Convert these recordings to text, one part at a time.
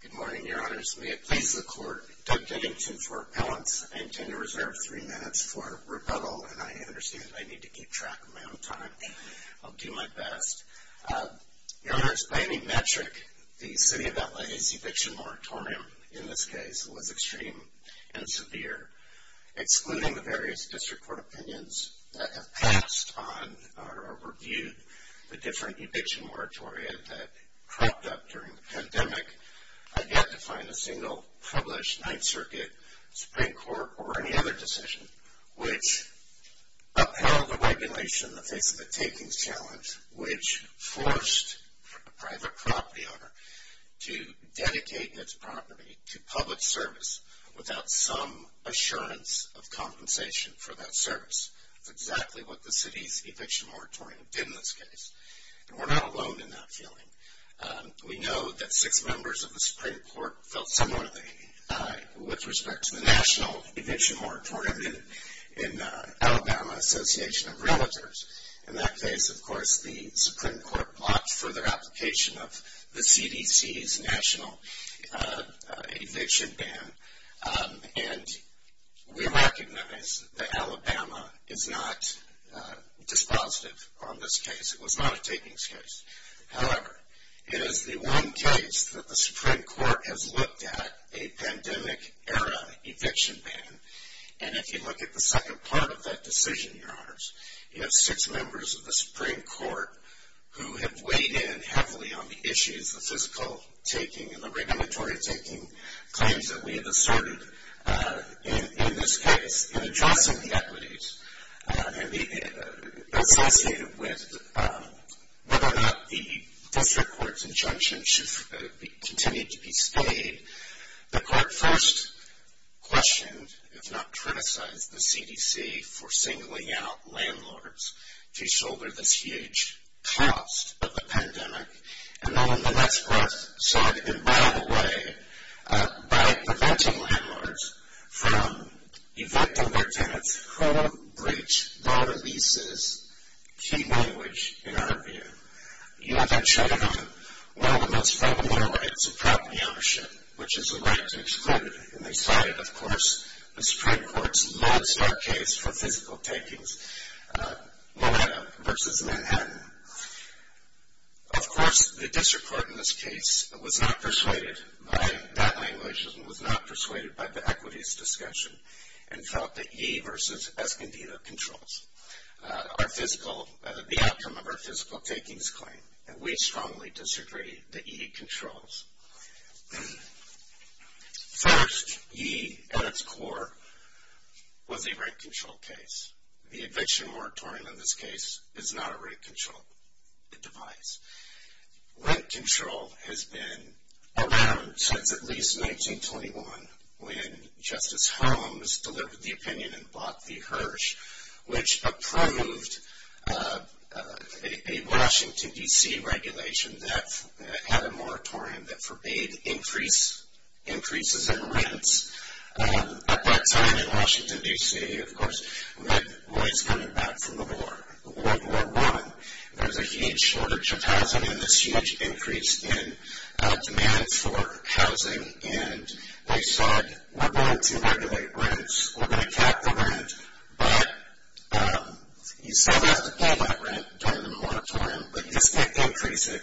Good morning, Your Honors. May it please the Court, Doug Dennington for Appellants. I intend to reserve three minutes for rebuttal, and I understand I need to keep track of my own time. I'll do my best. Your Honors, by any metric, the City of LA's eviction moratorium, in this case, was extreme and severe, excluding the various District Court opinions that have reviewed the different eviction moratorium that cropped up during the pandemic. I've yet to find a single published Ninth Circuit, Supreme Court, or any other decision which upheld the regulation in the face of a takings challenge, which forced a private property owner to dedicate its property to public service without some assurance of compensation for that service. That's exactly what the City's eviction moratorium did in this case. We're not alone in that feeling. We know that six members of the Supreme Court felt similarly with respect to the national eviction moratorium in Alabama Association of Realtors. In that case, of course, the Supreme Court blocked further application of the CDC's national eviction ban, and we recognize that Alabama is not dispositive on this case. It was not a takings case. However, it is the one case that the Supreme Court has looked at a pandemic era eviction ban, and if you look at the second part of that decision, Your Honors, you have six members of the Supreme Court who have weighed in heavily on the issues, the physical taking, and the regulatory taking claims that we have asserted in this case in addressing the equities associated with whether or not the district court's injunction should continue to be stayed. The court first questioned, if not criticized, the CDC for singling out by preventing landlords from evicting their tenants who have breached Mona Lisa's key language in our view. You have then shut it off. One of the most fundamental rights of property ownership, which is the right to exclude, and they cited, of course, the Supreme Court's lodestar case for physical takings, Moana versus Manhattan. Of course, the district court in this case was not persuaded by that language and was not persuaded by the equities discussion and felt that E versus S can be the controls, the outcome of our physical takings claim, and we strongly disagree that E controls. First, E at its core was a rent control device. Rent control has been around since at least 1921 when Justice Holmes delivered the opinion and bought the Hirsch, which approved a Washington, D.C. regulation that had a moratorium that forbade increases in rents. At that time in Washington, D.C., of course, rent was coming back from the war, World War I. There was a huge shortage of housing and this huge increase in demand for housing, and they said, we're going to regulate rents. We're going to cap the rent, but you still have to pay that rent during the moratorium, but this didn't increase it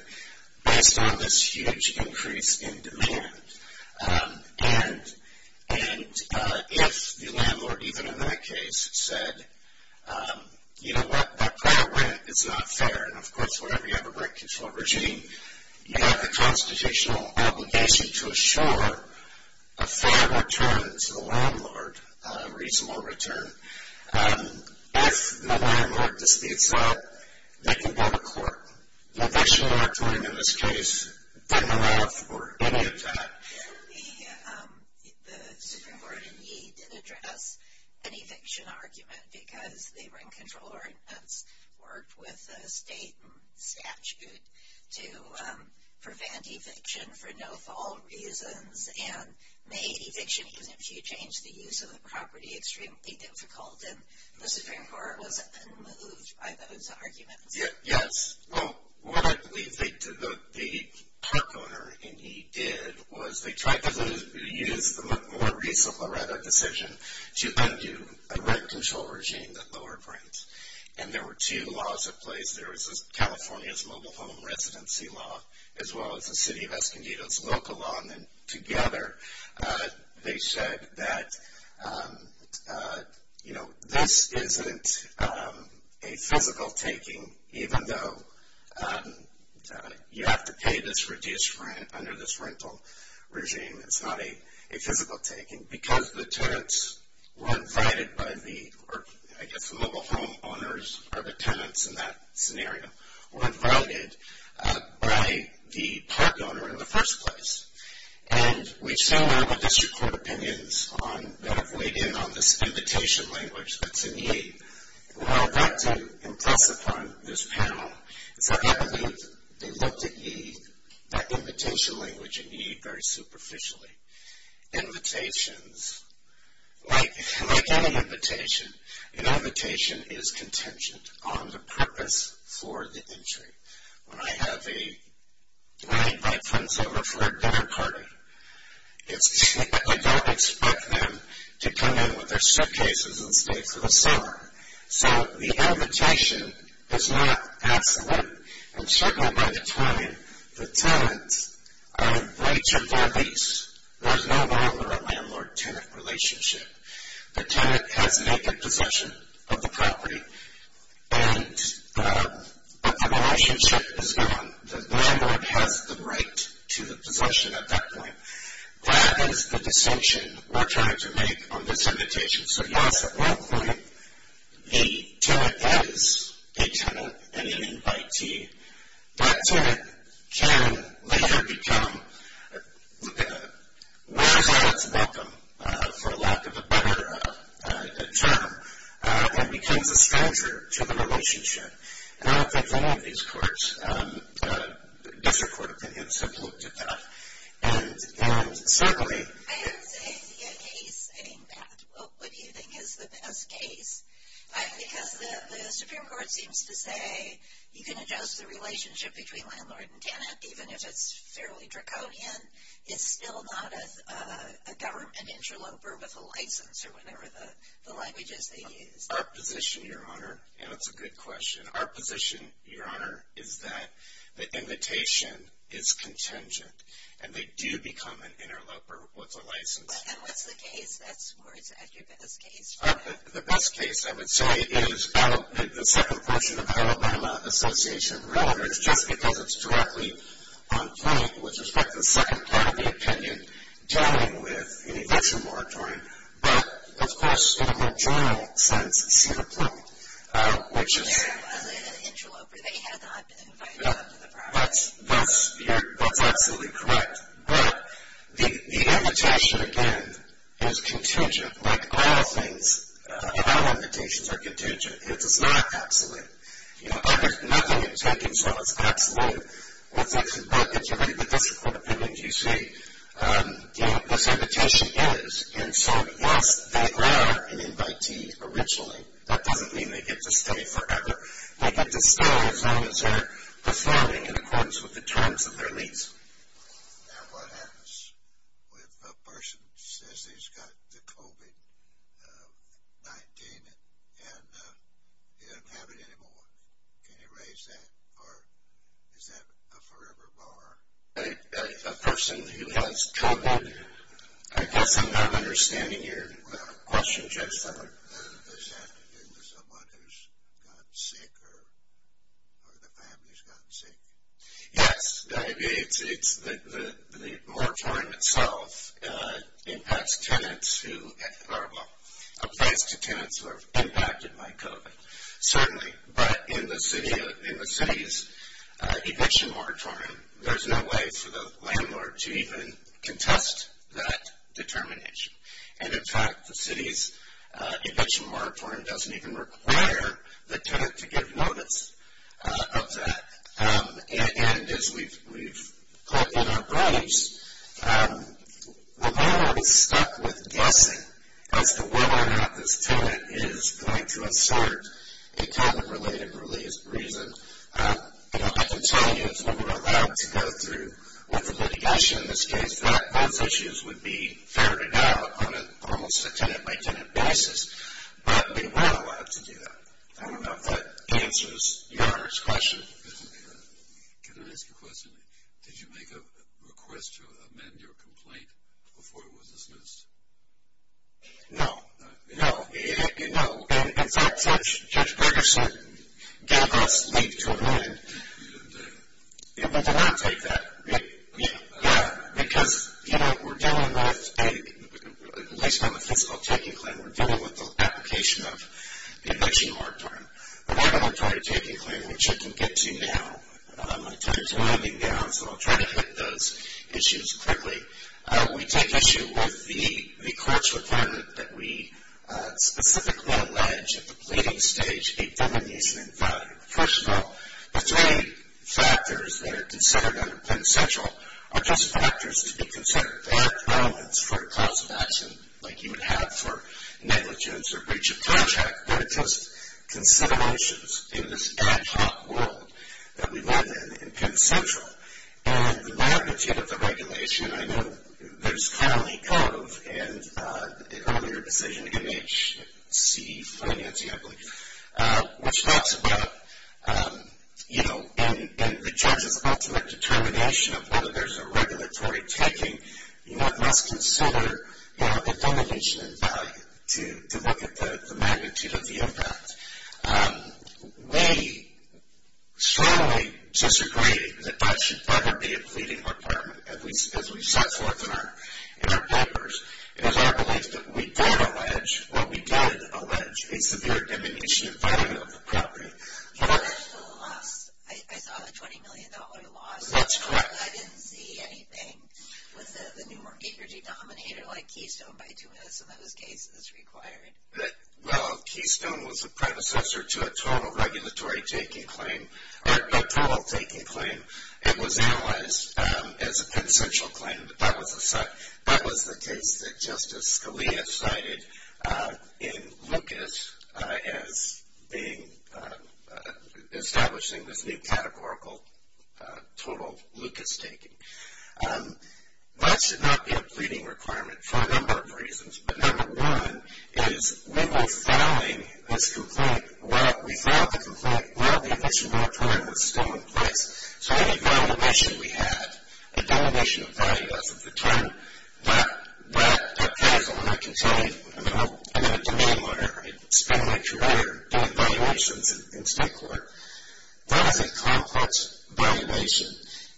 based on this huge increase in demand. And if the landlord, even in that case, said, you know what, that rent is not fair, and of course, whenever you have a rent control regime, you have a constitutional obligation to assure a fair return to the landlord, a in this case. The Supreme Court in Yee did address an eviction argument because the rent control ordinance worked with the state and statute to prevent eviction for no fault reasons and made eviction even if you changed the use of the property extremely difficult, and the Supreme Court wasn't moved by those arguments. Yes. Well, what I believe the park owner in Yee did was they tried to use the more recent Loretta decision to undo a rent control regime that lowered rents, and there were two laws in place. There was California's mobile home residency law, as well as the city of Escondido's local law, and then together they said that, you know, this isn't a physical taking, even though you have to pay this reduced rent under this rental regime, it's not a physical taking because the tenants were invited by the, or I guess the mobile home owners are the tenants in that scenario, were invited by the park owner in the first place. And we've seen that with district court opinions on, that have weighed in on this invitation language that's in Yee. Well, that didn't impress upon this panel, except I believe they looked at Yee, that invitation language in Yee very superficially. Invitations, like any invitation, an invitation is contingent on the purpose for the entry. When I invite friends over for a dinner party, I don't expect them to come in with their suitcases and stay for the summer. So, the invitation is not absolute and circled by the 20. The tenants are in right to their lease. There's no longer a landlord-tenant relationship. The tenant has naked possession of the property, but the relationship is gone. The landlord has the right to the possession at that point. That is the distinction we're trying to make on this invitation. So, yes, at that point, the tenant is a tenant and an invitee. That tenant can later become, wears out its welcome, for lack of a better term, and becomes a stranger to the relationship. And I don't think any of these courts, district court opinions, have looked at that. And secondly. I don't see a case saying that. What do you think is the best case? Because the Supreme Court seems to say you can adjust the relationship between landlord and tenant, even if it's fairly draconian. It's still not a government interloper with a license, or whatever the language is they use. Our position, Your Honor, and it's a good question. Our position, Your Honor, is that the invitation is contingent, and they do become an interloper with a license. And what's the case? That's where it's at, your best case. The best case, I would say, is the second portion of the Alabama Association of Landlords, just because it's directly on point with respect to the second part of the opinion, dealing with an eviction moratorium. But, of course, in a more general sense, it's inappropriate. Which is... They're a positive interloper. They have the opportunity to buy the property. That's absolutely correct. But the invitation, again, is contingent. Like all things, all invitations are contingent. It's not absolute. There's nothing in taking so it's absolute. Well, it's actually... Well, if you read the district court opinions, you see what this invitation is. And so, yes, they are an invitee originally. That doesn't mean they get to stay forever. They get to stay as long as they're performing in accordance with the terms of their lease. Now, what happens if a person says he's got the COVID-19 and he doesn't have it anymore? Can you raise that? Or is that a forever bar? A person who has COVID? I guess I'm not understanding your question, Judge Summer. Does that have to do with someone who's gotten sick or the family's gotten sick? Yes. The moratorium itself impacts tenants who... Well, applies to tenants who are impacted by COVID. Certainly. But in the city's eviction moratorium, there's no way for the landlord to even contest that determination. And, in fact, the city's eviction moratorium doesn't even require the tenant to give notice of that. And as we've put in our briefs, the landlord is stuck with guessing as to whether or not this tenant is going to assert a COVID-related reason. I can tell you if we were allowed to go through with the litigation in this case, that those issues would be ferried out on almost a tenant-by-tenant basis. But we weren't allowed to do that. I don't know if that answers your question. Can I ask a question? Did you make a request to amend your complaint before it was dismissed? No. No? No. In fact, Judge Bergerson gave us leave to amend. You didn't take it? We did not take that. Yeah. Because we're dealing with, at least on the fiscal taking plan, we're dealing with the application of the eviction moratorium. But I'm going to try to take you through what you can get to now. I'm going to turn to winding down, so I'll try to hit those issues quickly. We take issue with the courts' requirement that we specifically allege at the pleading stage a demonizing value. First of all, the three factors that are considered under Planned Central are just factors to be considered. They aren't relevance for a cause of action like you would have for negligence or breach of contract. They're just considerations in this ad hoc world that we live in in Planned Central. And the magnitude of the regulation, I know there's Connelly Cove and the earlier decision, MHC Financing, I believe, which talks about, you know, in the judge's ultimate determination of whether there's a regulatory taking, one must consider, you know, the diminution in value to look at the magnitude of the impact. We strongly disagree that that should rather be a pleading requirement, as we set forth in our papers. It is our belief that we did allege, well, we did allege a severe diminution in value of the property. I saw the $20 million loss. That's correct. I didn't see anything with the new mortgage denominator like Keystone by doing this in those cases required. Well, Keystone was a predecessor to a total regulatory taking claim, or a total taking claim. It was analyzed as a Planned Central claim. That was the case that Justice Scalia cited in Lucas as establishing this new categorical total Lucas taking. That should not be a pleading requirement for a number of reasons, but number one is we were filing this complaint. Well, we filed the complaint. Well, the initial requirement was still in place. So any valuation we had, a diminution of value as of the term, that appears when I continue in a denominator, I mean spending a career doing valuations in state court, that is a complex valuation,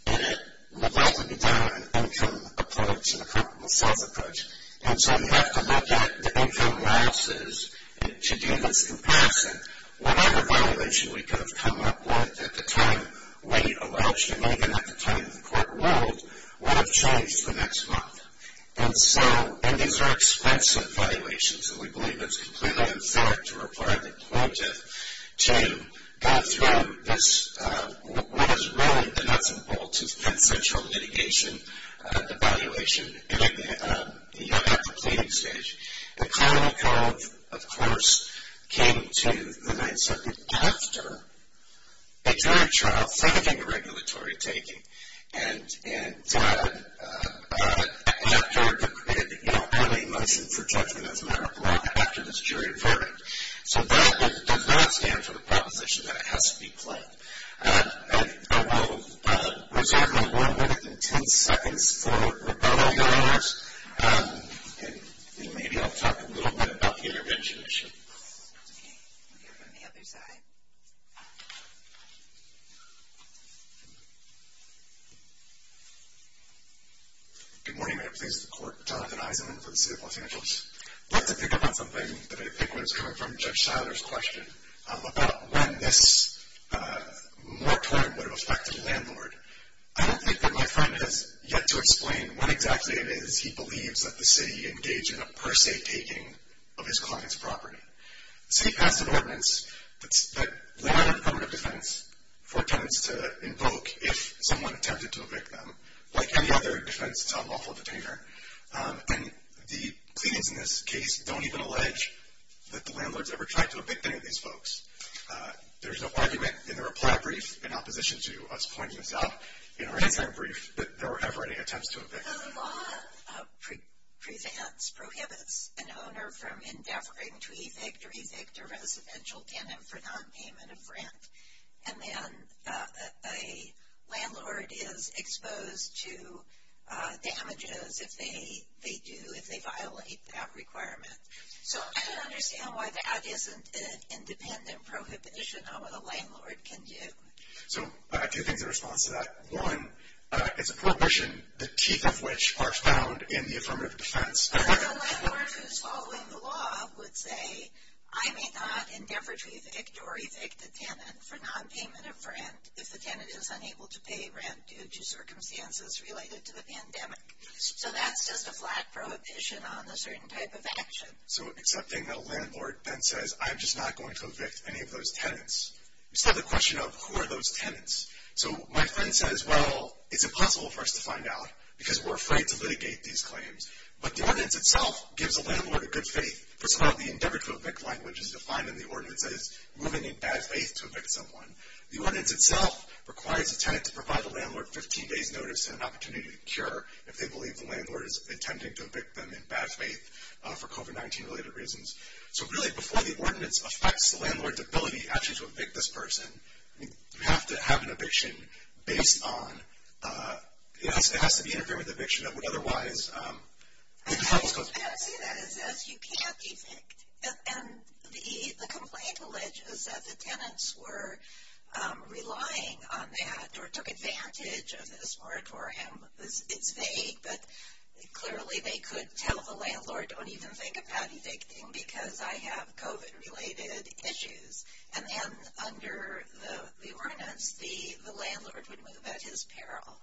and it would like to be done in an income approach, in a comparable sales approach. And so you have to look at the income analysis to do this comparison. Whatever valuation we could have come up with at the time we allowed you, even at the time the court ruled, would have changed the next month. And these are expensive valuations, and we believe it's completely unfair to require the plaintiff to go through what is really the nuts and bolts of Planned Central litigation, the valuation at the pleading stage. Economy Cove, of course, came to the Ninth Circuit after a jury trial, second-finger regulatory taking, and after an early motion for judgment as a matter of law, after this jury verdict. So that does not stand for the proposition that it has to be claimed. I will reserve my one minute and ten seconds for rebuttal here on this, and maybe I'll talk a little bit about the intervention issue. Okay, we'll hear from the other side. Good morning. I'm pleased to report Jonathan Eisenman for the City of Los Angeles. I'd like to pick up on something that I think was coming from Judge Seiler's question about when this moratorium would have affected a landlord. I don't think that my friend has yet to explain when exactly it is he believes that the city engaged in a per se taking of his client's property. The city passed an ordinance that laid out a form of defense for tenants to invoke if someone attempted to evict them, like any other defense to a lawful detainer. And the pleadings in this case don't even allege that the landlord's ever tried to evict any of these folks. There's an argument in the reply brief in opposition to us pointing this out in our answer brief that there were never any attempts to evict. The law prohibits an owner from endeavoring to evict or evict a residential tenant for nonpayment of rent, and then a landlord is exposed to damages if they do, if they violate that requirement. So I don't understand why that isn't an independent prohibition on what a landlord can do. So two things in response to that. One, it's a prohibition, the teeth of which are found in the affirmative defense. A landlord who's following the law would say, I may not endeavor to evict or evict a tenant for nonpayment of rent if the tenant is unable to pay rent due to circumstances related to the pandemic. So that's just a flat prohibition on a certain type of action. So accepting that a landlord then says, I'm just not going to evict any of those tenants. You still have the question of who are those tenants? So my friend says, well, it's impossible for us to find out because we're afraid to litigate these claims. But the ordinance itself gives a landlord a good faith. First of all, the endeavor to evict language is defined in the ordinance as moving in bad faith to evict someone. The ordinance itself requires a tenant to provide the landlord 15 days notice and an opportunity to cure if they believe the landlord is intending to evict them in bad faith for COVID-19-related reasons. So really before the ordinance affects the landlord's ability actually to evict this person, you have to have an eviction based on – it has to be integrated with eviction that would otherwise – I see that as you can't evict. And the complaint alleges that the tenants were relying on that or took advantage of this moratorium. It's vague, but clearly they could tell the landlord, don't even think about evicting because I have COVID-related issues. And then under the ordinance, the landlord would move at his peril.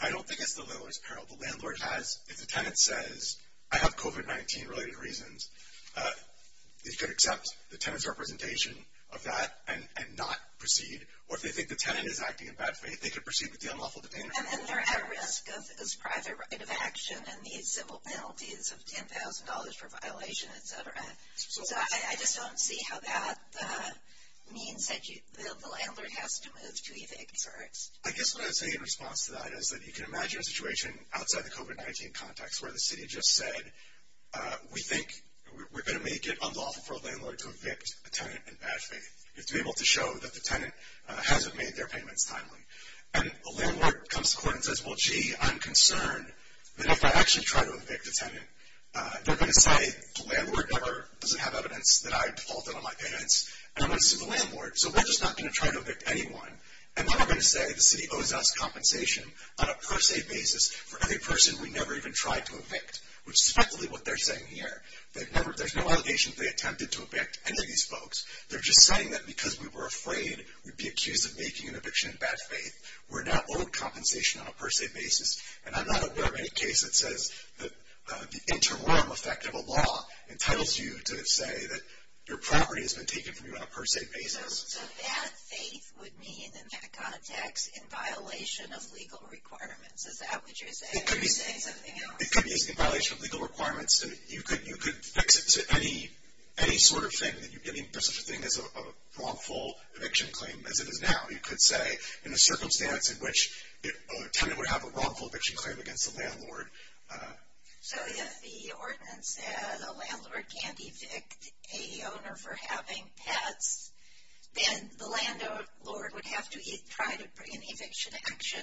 I don't think it's the landlord's peril. The landlord has – if the tenant says, I have COVID-19-related reasons, they could accept the tenant's representation of that and not proceed. Or if they think the tenant is acting in bad faith, they could proceed with the unlawful detention. And they're at risk of this private right of action and these simple penalties of $10,000 for violation, et cetera. So I just don't see how that means that the landlord has to move to evict first. I guess what I would say in response to that is that you can imagine a situation outside the COVID-19 context where the city just said, we think we're going to make it unlawful for a landlord to evict a tenant in bad faith. You have to be able to show that the tenant hasn't made their payments timely. And the landlord comes to court and says, well, gee, I'm concerned that if I actually try to evict a tenant, they're going to say the landlord doesn't have evidence that I defaulted on my payments and I'm going to sue the landlord. So we're just not going to try to evict anyone. And then they're going to say the city owes us compensation on a per se basis for every person we never even tried to evict, which is effectively what they're saying here. There's no allegation they attempted to evict any of these folks. They're just saying that because we were afraid we'd be accused of making an eviction in bad faith. We're now owed compensation on a per se basis. And I'm not aware of any case that says the interim effect of a law entitles you to say that your property has been taken from you on a per se basis. So bad faith would mean in that context in violation of legal requirements. Is that what you're saying? Or are you saying something else? It could be in violation of legal requirements. You could fix it to any sort of thing. Any sort of thing as a wrongful eviction claim as it is now. You could say in a circumstance in which a tenant would have a wrongful eviction claim against a landlord. So if the ordinance said a landlord can't evict a owner for having pets, then the landlord would have to try to bring an eviction action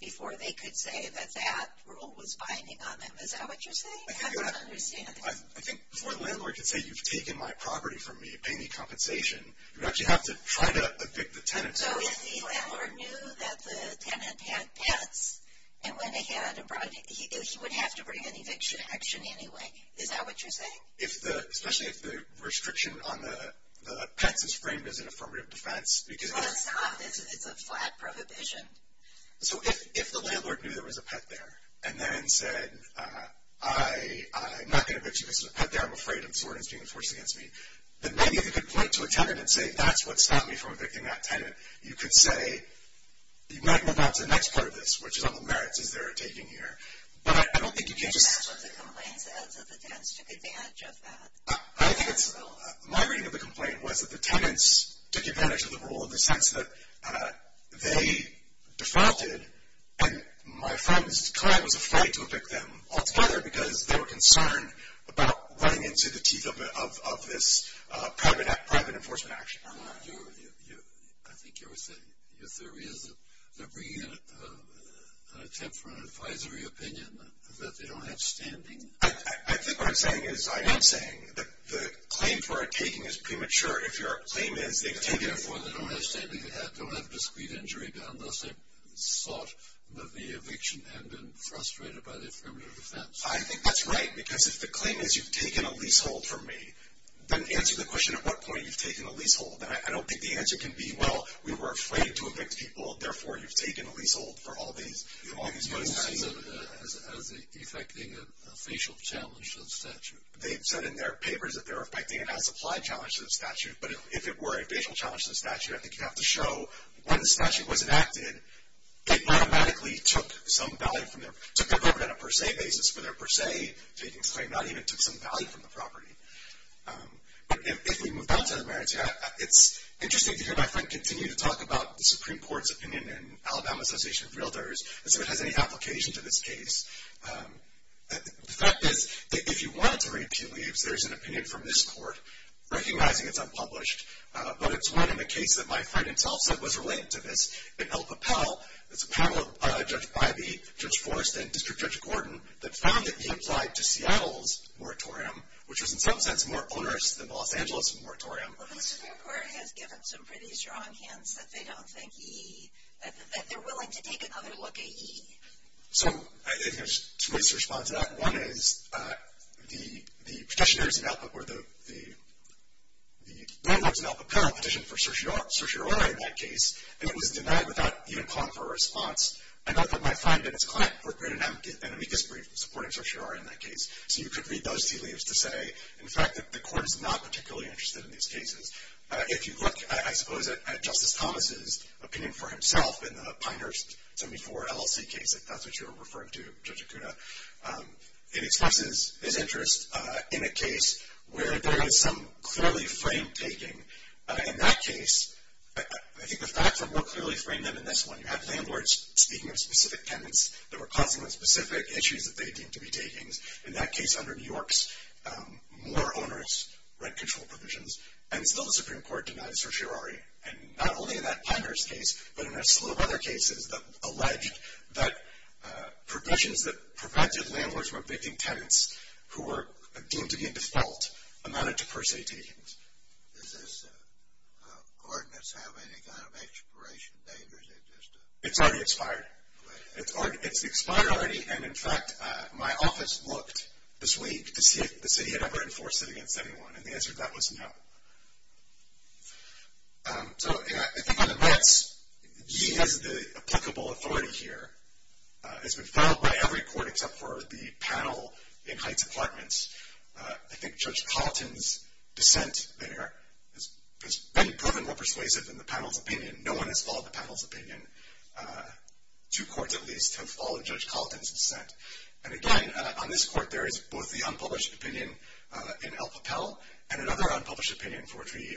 before they could say that that rule was binding on them. Is that what you're saying? I don't understand. I think before the landlord could say you've taken my property from me, pay me compensation, you'd actually have to try to evict the tenant. So if the landlord knew that the tenant had pets and went ahead and brought it, he would have to bring an eviction action anyway. Is that what you're saying? Especially if the restriction on the pets is framed as an affirmative defense. Well, it's not. It's a flat prohibition. So if the landlord knew there was a pet there and then said, I'm not going to evict you because there's a pet there, I'm afraid, and this ordinance is being enforced against me, then maybe they could point to a tenant and say that's what stopped me from evicting that tenant. You could say, you might move on to the next part of this, which is on the merits as they're taking here. But I don't think you can just. That's what the complaint says, that the tenants took advantage of that. My reading of the complaint was that the tenants took advantage of the rule in the sense that they defrauded, and my friend's client was afraid to evict them altogether because they were concerned about running into the teeth of this private enforcement action. I think your theory is that they're bringing in an attempt for an advisory opinion, that they don't have standing. I think what I'm saying is I am saying the claim for a taking is premature. If your claim is they've taken it before, they don't have standing, they don't have discreet injury, but unless they've sought the eviction and been frustrated by the affirmative defense. I think that's right because if the claim is you've taken a leasehold from me, then answer the question at what point you've taken a leasehold. I don't think the answer can be, well, we were afraid to evict people, therefore you've taken a leasehold for all these months. You would see that as affecting a facial challenge to the statute. They've said in their papers that they're affecting it as a supply challenge to the statute, but if it were a facial challenge to the statute, I think you'd have to show when the statute was enacted, it automatically took some value from their, took their burden on a per se basis for their per se taking, so they not even took some value from the property. If we move down to the merits, it's interesting to hear my friend continue to talk about the Supreme Court's opinion and Alabama Association of Realtors and see if it has any application to this case. The fact is that if you wanted to read Pete Leaves, there's an opinion from this court recognizing it's unpublished, but it's one in the case that my friend himself said was related to this. In El Papel, it's a panel judged by Judge Forrest and District Judge Gordon that found that he applied to Seattle's moratorium, which is in some sense more onerous than the Los Angeles moratorium. Well, the Supreme Court has given some pretty strong hints that they don't think he, that they're willing to take another look at he. So, I think there's two ways to respond to that. One is the petitioners in El Papel, or the landlords in El Papel petitioned for certiorari in that case, and it was denied without even calling for a response. I know that my friend and his client, Court Grant and Amicus briefed supporting certiorari in that case, so you could read those tea leaves to say, in fact, that the court is not particularly interested in these cases. If you look, I suppose, at Justice Thomas's opinion for himself in the Pinehurst 74 LLC case, if that's what you were referring to, Judge Okuda, it expresses his interest in a case where there is some clearly framed taking. In that case, I think the facts are more clearly framed than in this one. You have landlords speaking of specific tenants that were causing the specific issues that they deemed to be takings. In that case, under New York's more onerous rent control provisions, and still the Supreme Court denies certiorari. And not only in that Pinehurst case, but in a slew of other cases that alleged that provisions that prevented landlords from evicting tenants who were deemed to be in default amounted to per se takings. Does this ordinance have any kind of expiration date? It's already expired. It's expired already, and in fact, my office looked this week to see if the city had ever enforced it against anyone, and the answer to that was no. So I think on the merits, he has the applicable authority here. It's been filed by every court except for the panel in Heights Apartments. I think Judge Colleton's dissent there has been proven more persuasive than the panel's opinion. No one has followed the panel's opinion. Two courts, at least, have followed Judge Colleton's dissent. And again, on this court, there is both the unpublished opinion in El Papel and another unpublished opinion for which we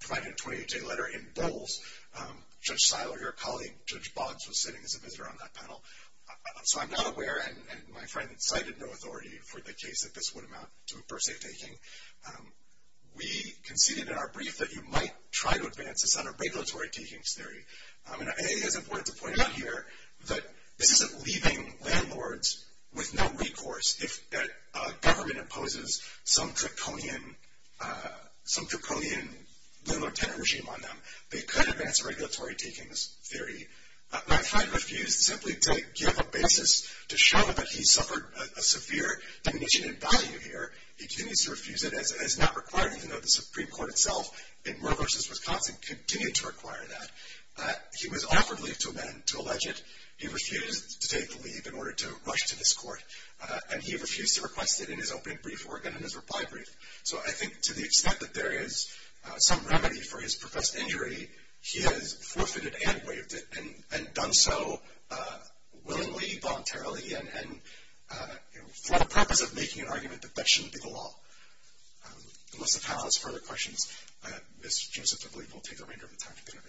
provided a 28-day letter in Bowles. Judge Seiler, your colleague, Judge Bonds, was sitting as a visitor on that panel. So I'm not aware, and my friend cited no authority for the case that this would amount to per se taking. We conceded in our brief that you might try to advance a set of regulatory takings theory. And it is important to point out here that this isn't leaving landlords with no recourse if a government imposes some draconian landlord-tenant regime on them. They could advance a regulatory takings theory. My friend refused simply to give a basis to show that he suffered a severe diminution in value here. He continues to refuse it as not required, even though the Supreme Court itself in Moore v. Wisconsin continued to require that. He was offered leave to amend, to allege it. He refused to take the leave in order to rush to this court. And he refused to request it in his opening brief and in his reply brief. So I think to the extent that there is some remedy for his professed injury, he has forfeited and waived it and done so willingly, voluntarily, and for the purpose of making an argument that that shouldn't be the law. Unless the panel has further questions, Ms. Joseph, I believe, will take the remainder of the time. Thank you.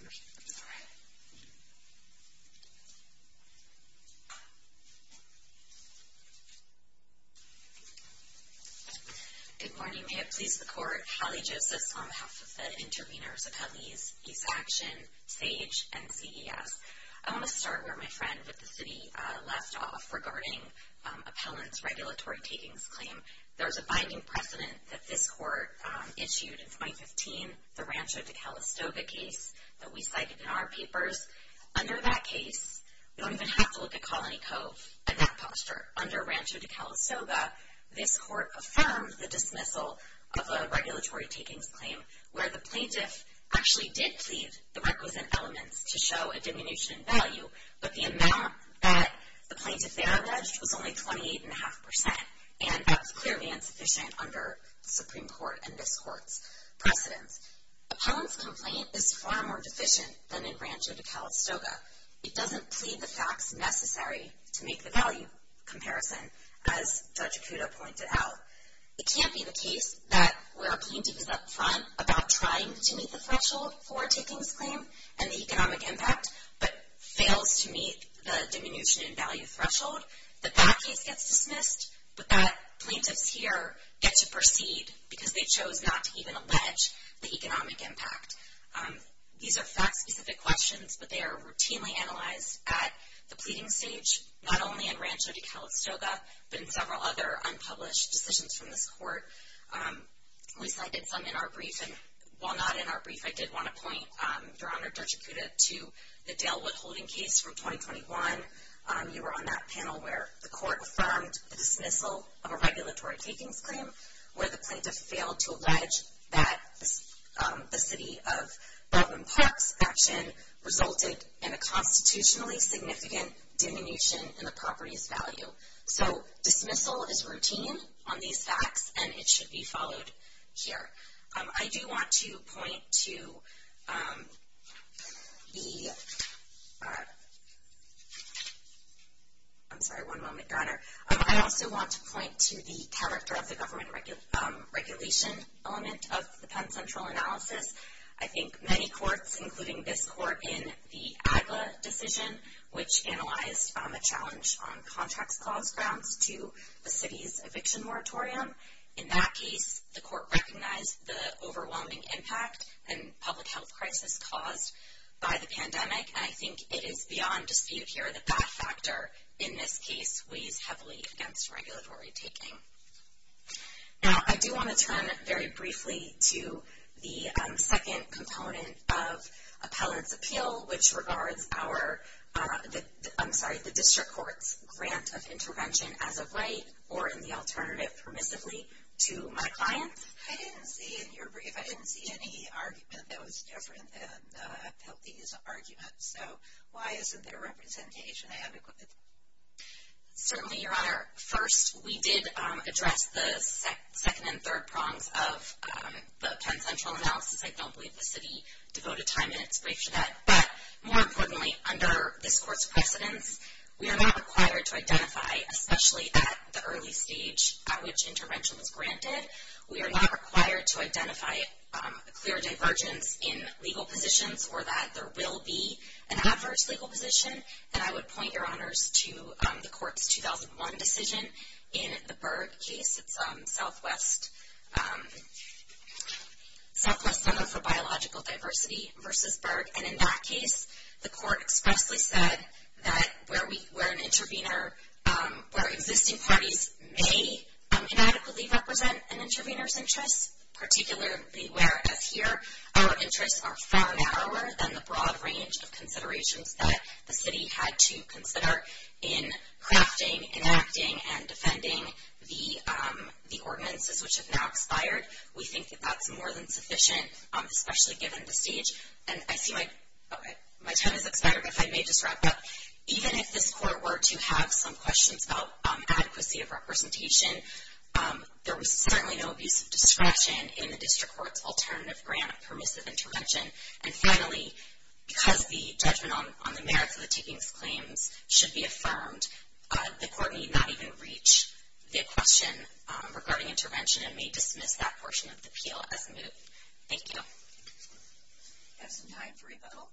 Good morning. May it please the Court. Holly Joseph on behalf of the interveners, appellees, Peace Action, SAGE, and CES. I want to start where my friend with the city left off regarding appellant's regulatory takings claim. There's a binding precedent that this court issued in 2015, the Rancho de Calistoga case that we cited in our papers. Under that case, we don't even have to look at Colony Cove and that posture. Under Rancho de Calistoga, this court affirmed the dismissal of a regulatory takings claim where the plaintiff actually did plead the requisite elements to show a diminution in value, but the amount that the plaintiff there alleged was only 28.5%. And that's clearly insufficient under the Supreme Court and this court's precedence. Appellant's complaint is far more deficient than in Rancho de Calistoga. It doesn't plead the facts necessary to make the value comparison, as Judge Kudo pointed out. It can't be the case that where a plaintiff is up front about trying to meet the threshold for a takings claim and the economic impact, but fails to meet the diminution in value threshold, that that case gets dismissed, but that plaintiffs here get to proceed because they chose not to even allege the economic impact. These are fact-specific questions, but they are routinely analyzed at the pleading stage, not only in Rancho de Calistoga, but in several other unpublished decisions from this court. We cited some in our brief, and while not in our brief, I did want to point, Your Honor, Judge Kudo, to the Dale Woodholding case from 2021. You were on that panel where the court affirmed the dismissal of a regulatory takings claim, where the plaintiff failed to allege that the City of Broadmoor Park's action resulted in a constitutionally significant diminution in the property's value. So dismissal is routine on these facts, and it should be followed here. I do want to point to the... I'm sorry, one moment, Your Honor. I also want to point to the character of the government regulation element of the Penn Central analysis. I think many courts, including this court in the Agla decision, which analyzed a challenge on contracts clause grounds to the city's eviction moratorium, in that case, the court recognized the overwhelming impact and public health crisis caused by the pandemic, and I think it is beyond dispute here that that factor in this case weighs heavily against regulatory taking. Now, I do want to turn very briefly to the second component of appellant's appeal, which regards our, I'm sorry, the district court's grant of intervention as of late or in the alternative permissively to my clients. I didn't see in your brief, I didn't see any argument that was different than appellee's argument, so why isn't there representation? Certainly, Your Honor. First, we did address the second and third prongs of the Penn Central analysis. I don't believe the city devoted time in its brief for that. But more importantly, under this court's precedence, we are not required to identify, especially at the early stage at which intervention was granted, we are not required to identify a clear divergence in legal positions or that there will be an adverse legal position. And I would point, Your Honors, to the court's 2001 decision in the Berg case. It's Southwest Center for Biological Diversity versus Berg. And in that case, the court expressly said that where an intervener, where existing parties may inadequately represent an intervener's interests, particularly where, as here, our interests are far narrower than the broad range of considerations that the city had to consider in crafting, enacting, and defending the ordinances which have now expired, we think that that's more than sufficient, especially given the stage. And I see my time has expired, but if I may just wrap up. Even if this court were to have some questions about adequacy of representation, there was certainly no abuse of discretion in the district court's alternative grant of permissive intervention. And finally, because the judgment on the merits of the taking of claims should be affirmed, the court may not even reach the question regarding intervention and may dismiss that portion of the appeal as moot. Thank you. We have some time for rebuttal.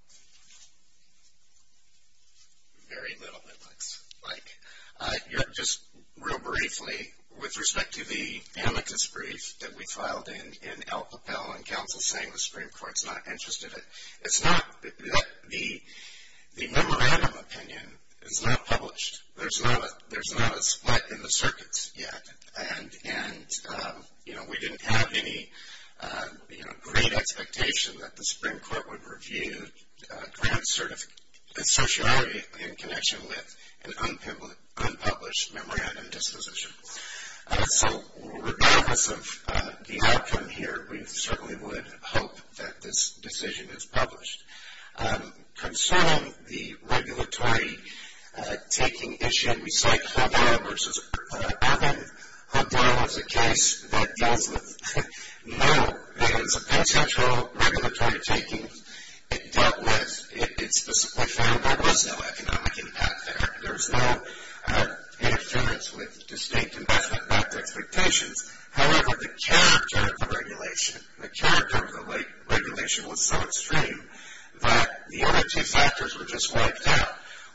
Very little, it looks like. Just real briefly, with respect to the amicus brief that we filed in El Capel and counsel saying the Supreme Court's not interested in it, it's not. The memorandum opinion is not published. There's not a split in the circuits yet. And, you know, we didn't have any, you know, great expectation that the Supreme Court would review grant sociality in connection with an unpublished memorandum disposition. So regardless of the outcome here, we certainly would hope that this decision is published. Concerning the regulatory taking issue in Recyc-Hodera versus El Capel, Hodera was a case that deals with no, it was a potential regulatory taking. It dealt with, it specifically found there was no economic impact there. There was no interference with distinct investment backed expectations. However, the character of the regulation, the character of the regulation was so extreme that the other case actors were just wiped out.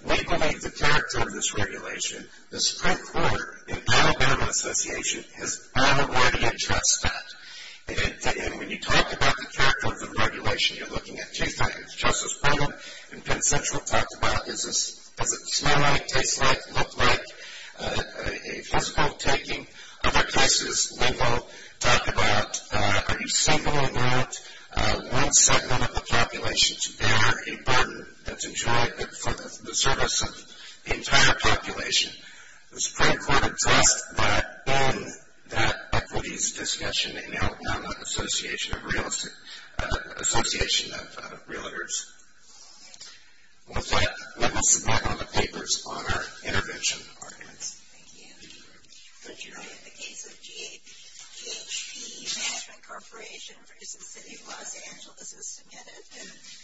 We believe the character of this regulation, the Supreme Court and Alabama Association has unworthy interest in it. And when you talk about the character of the regulation, you're looking at two things. Justice Brennan in Penn Central talked about does it smell like, taste like, look like a physical taking. Other cases, Leno talked about are you single enough, one segment of the population to bear a burden that's enjoyed for the service of the entire population. The Supreme Court addressed that in that equities discussion in Alabama Association Association of Realtors. With that, let me sit back on the papers on our intervention arguments. Thank you. Thank you. In the case of GHP Management Corporation for Houston City, Los Angeles has submitted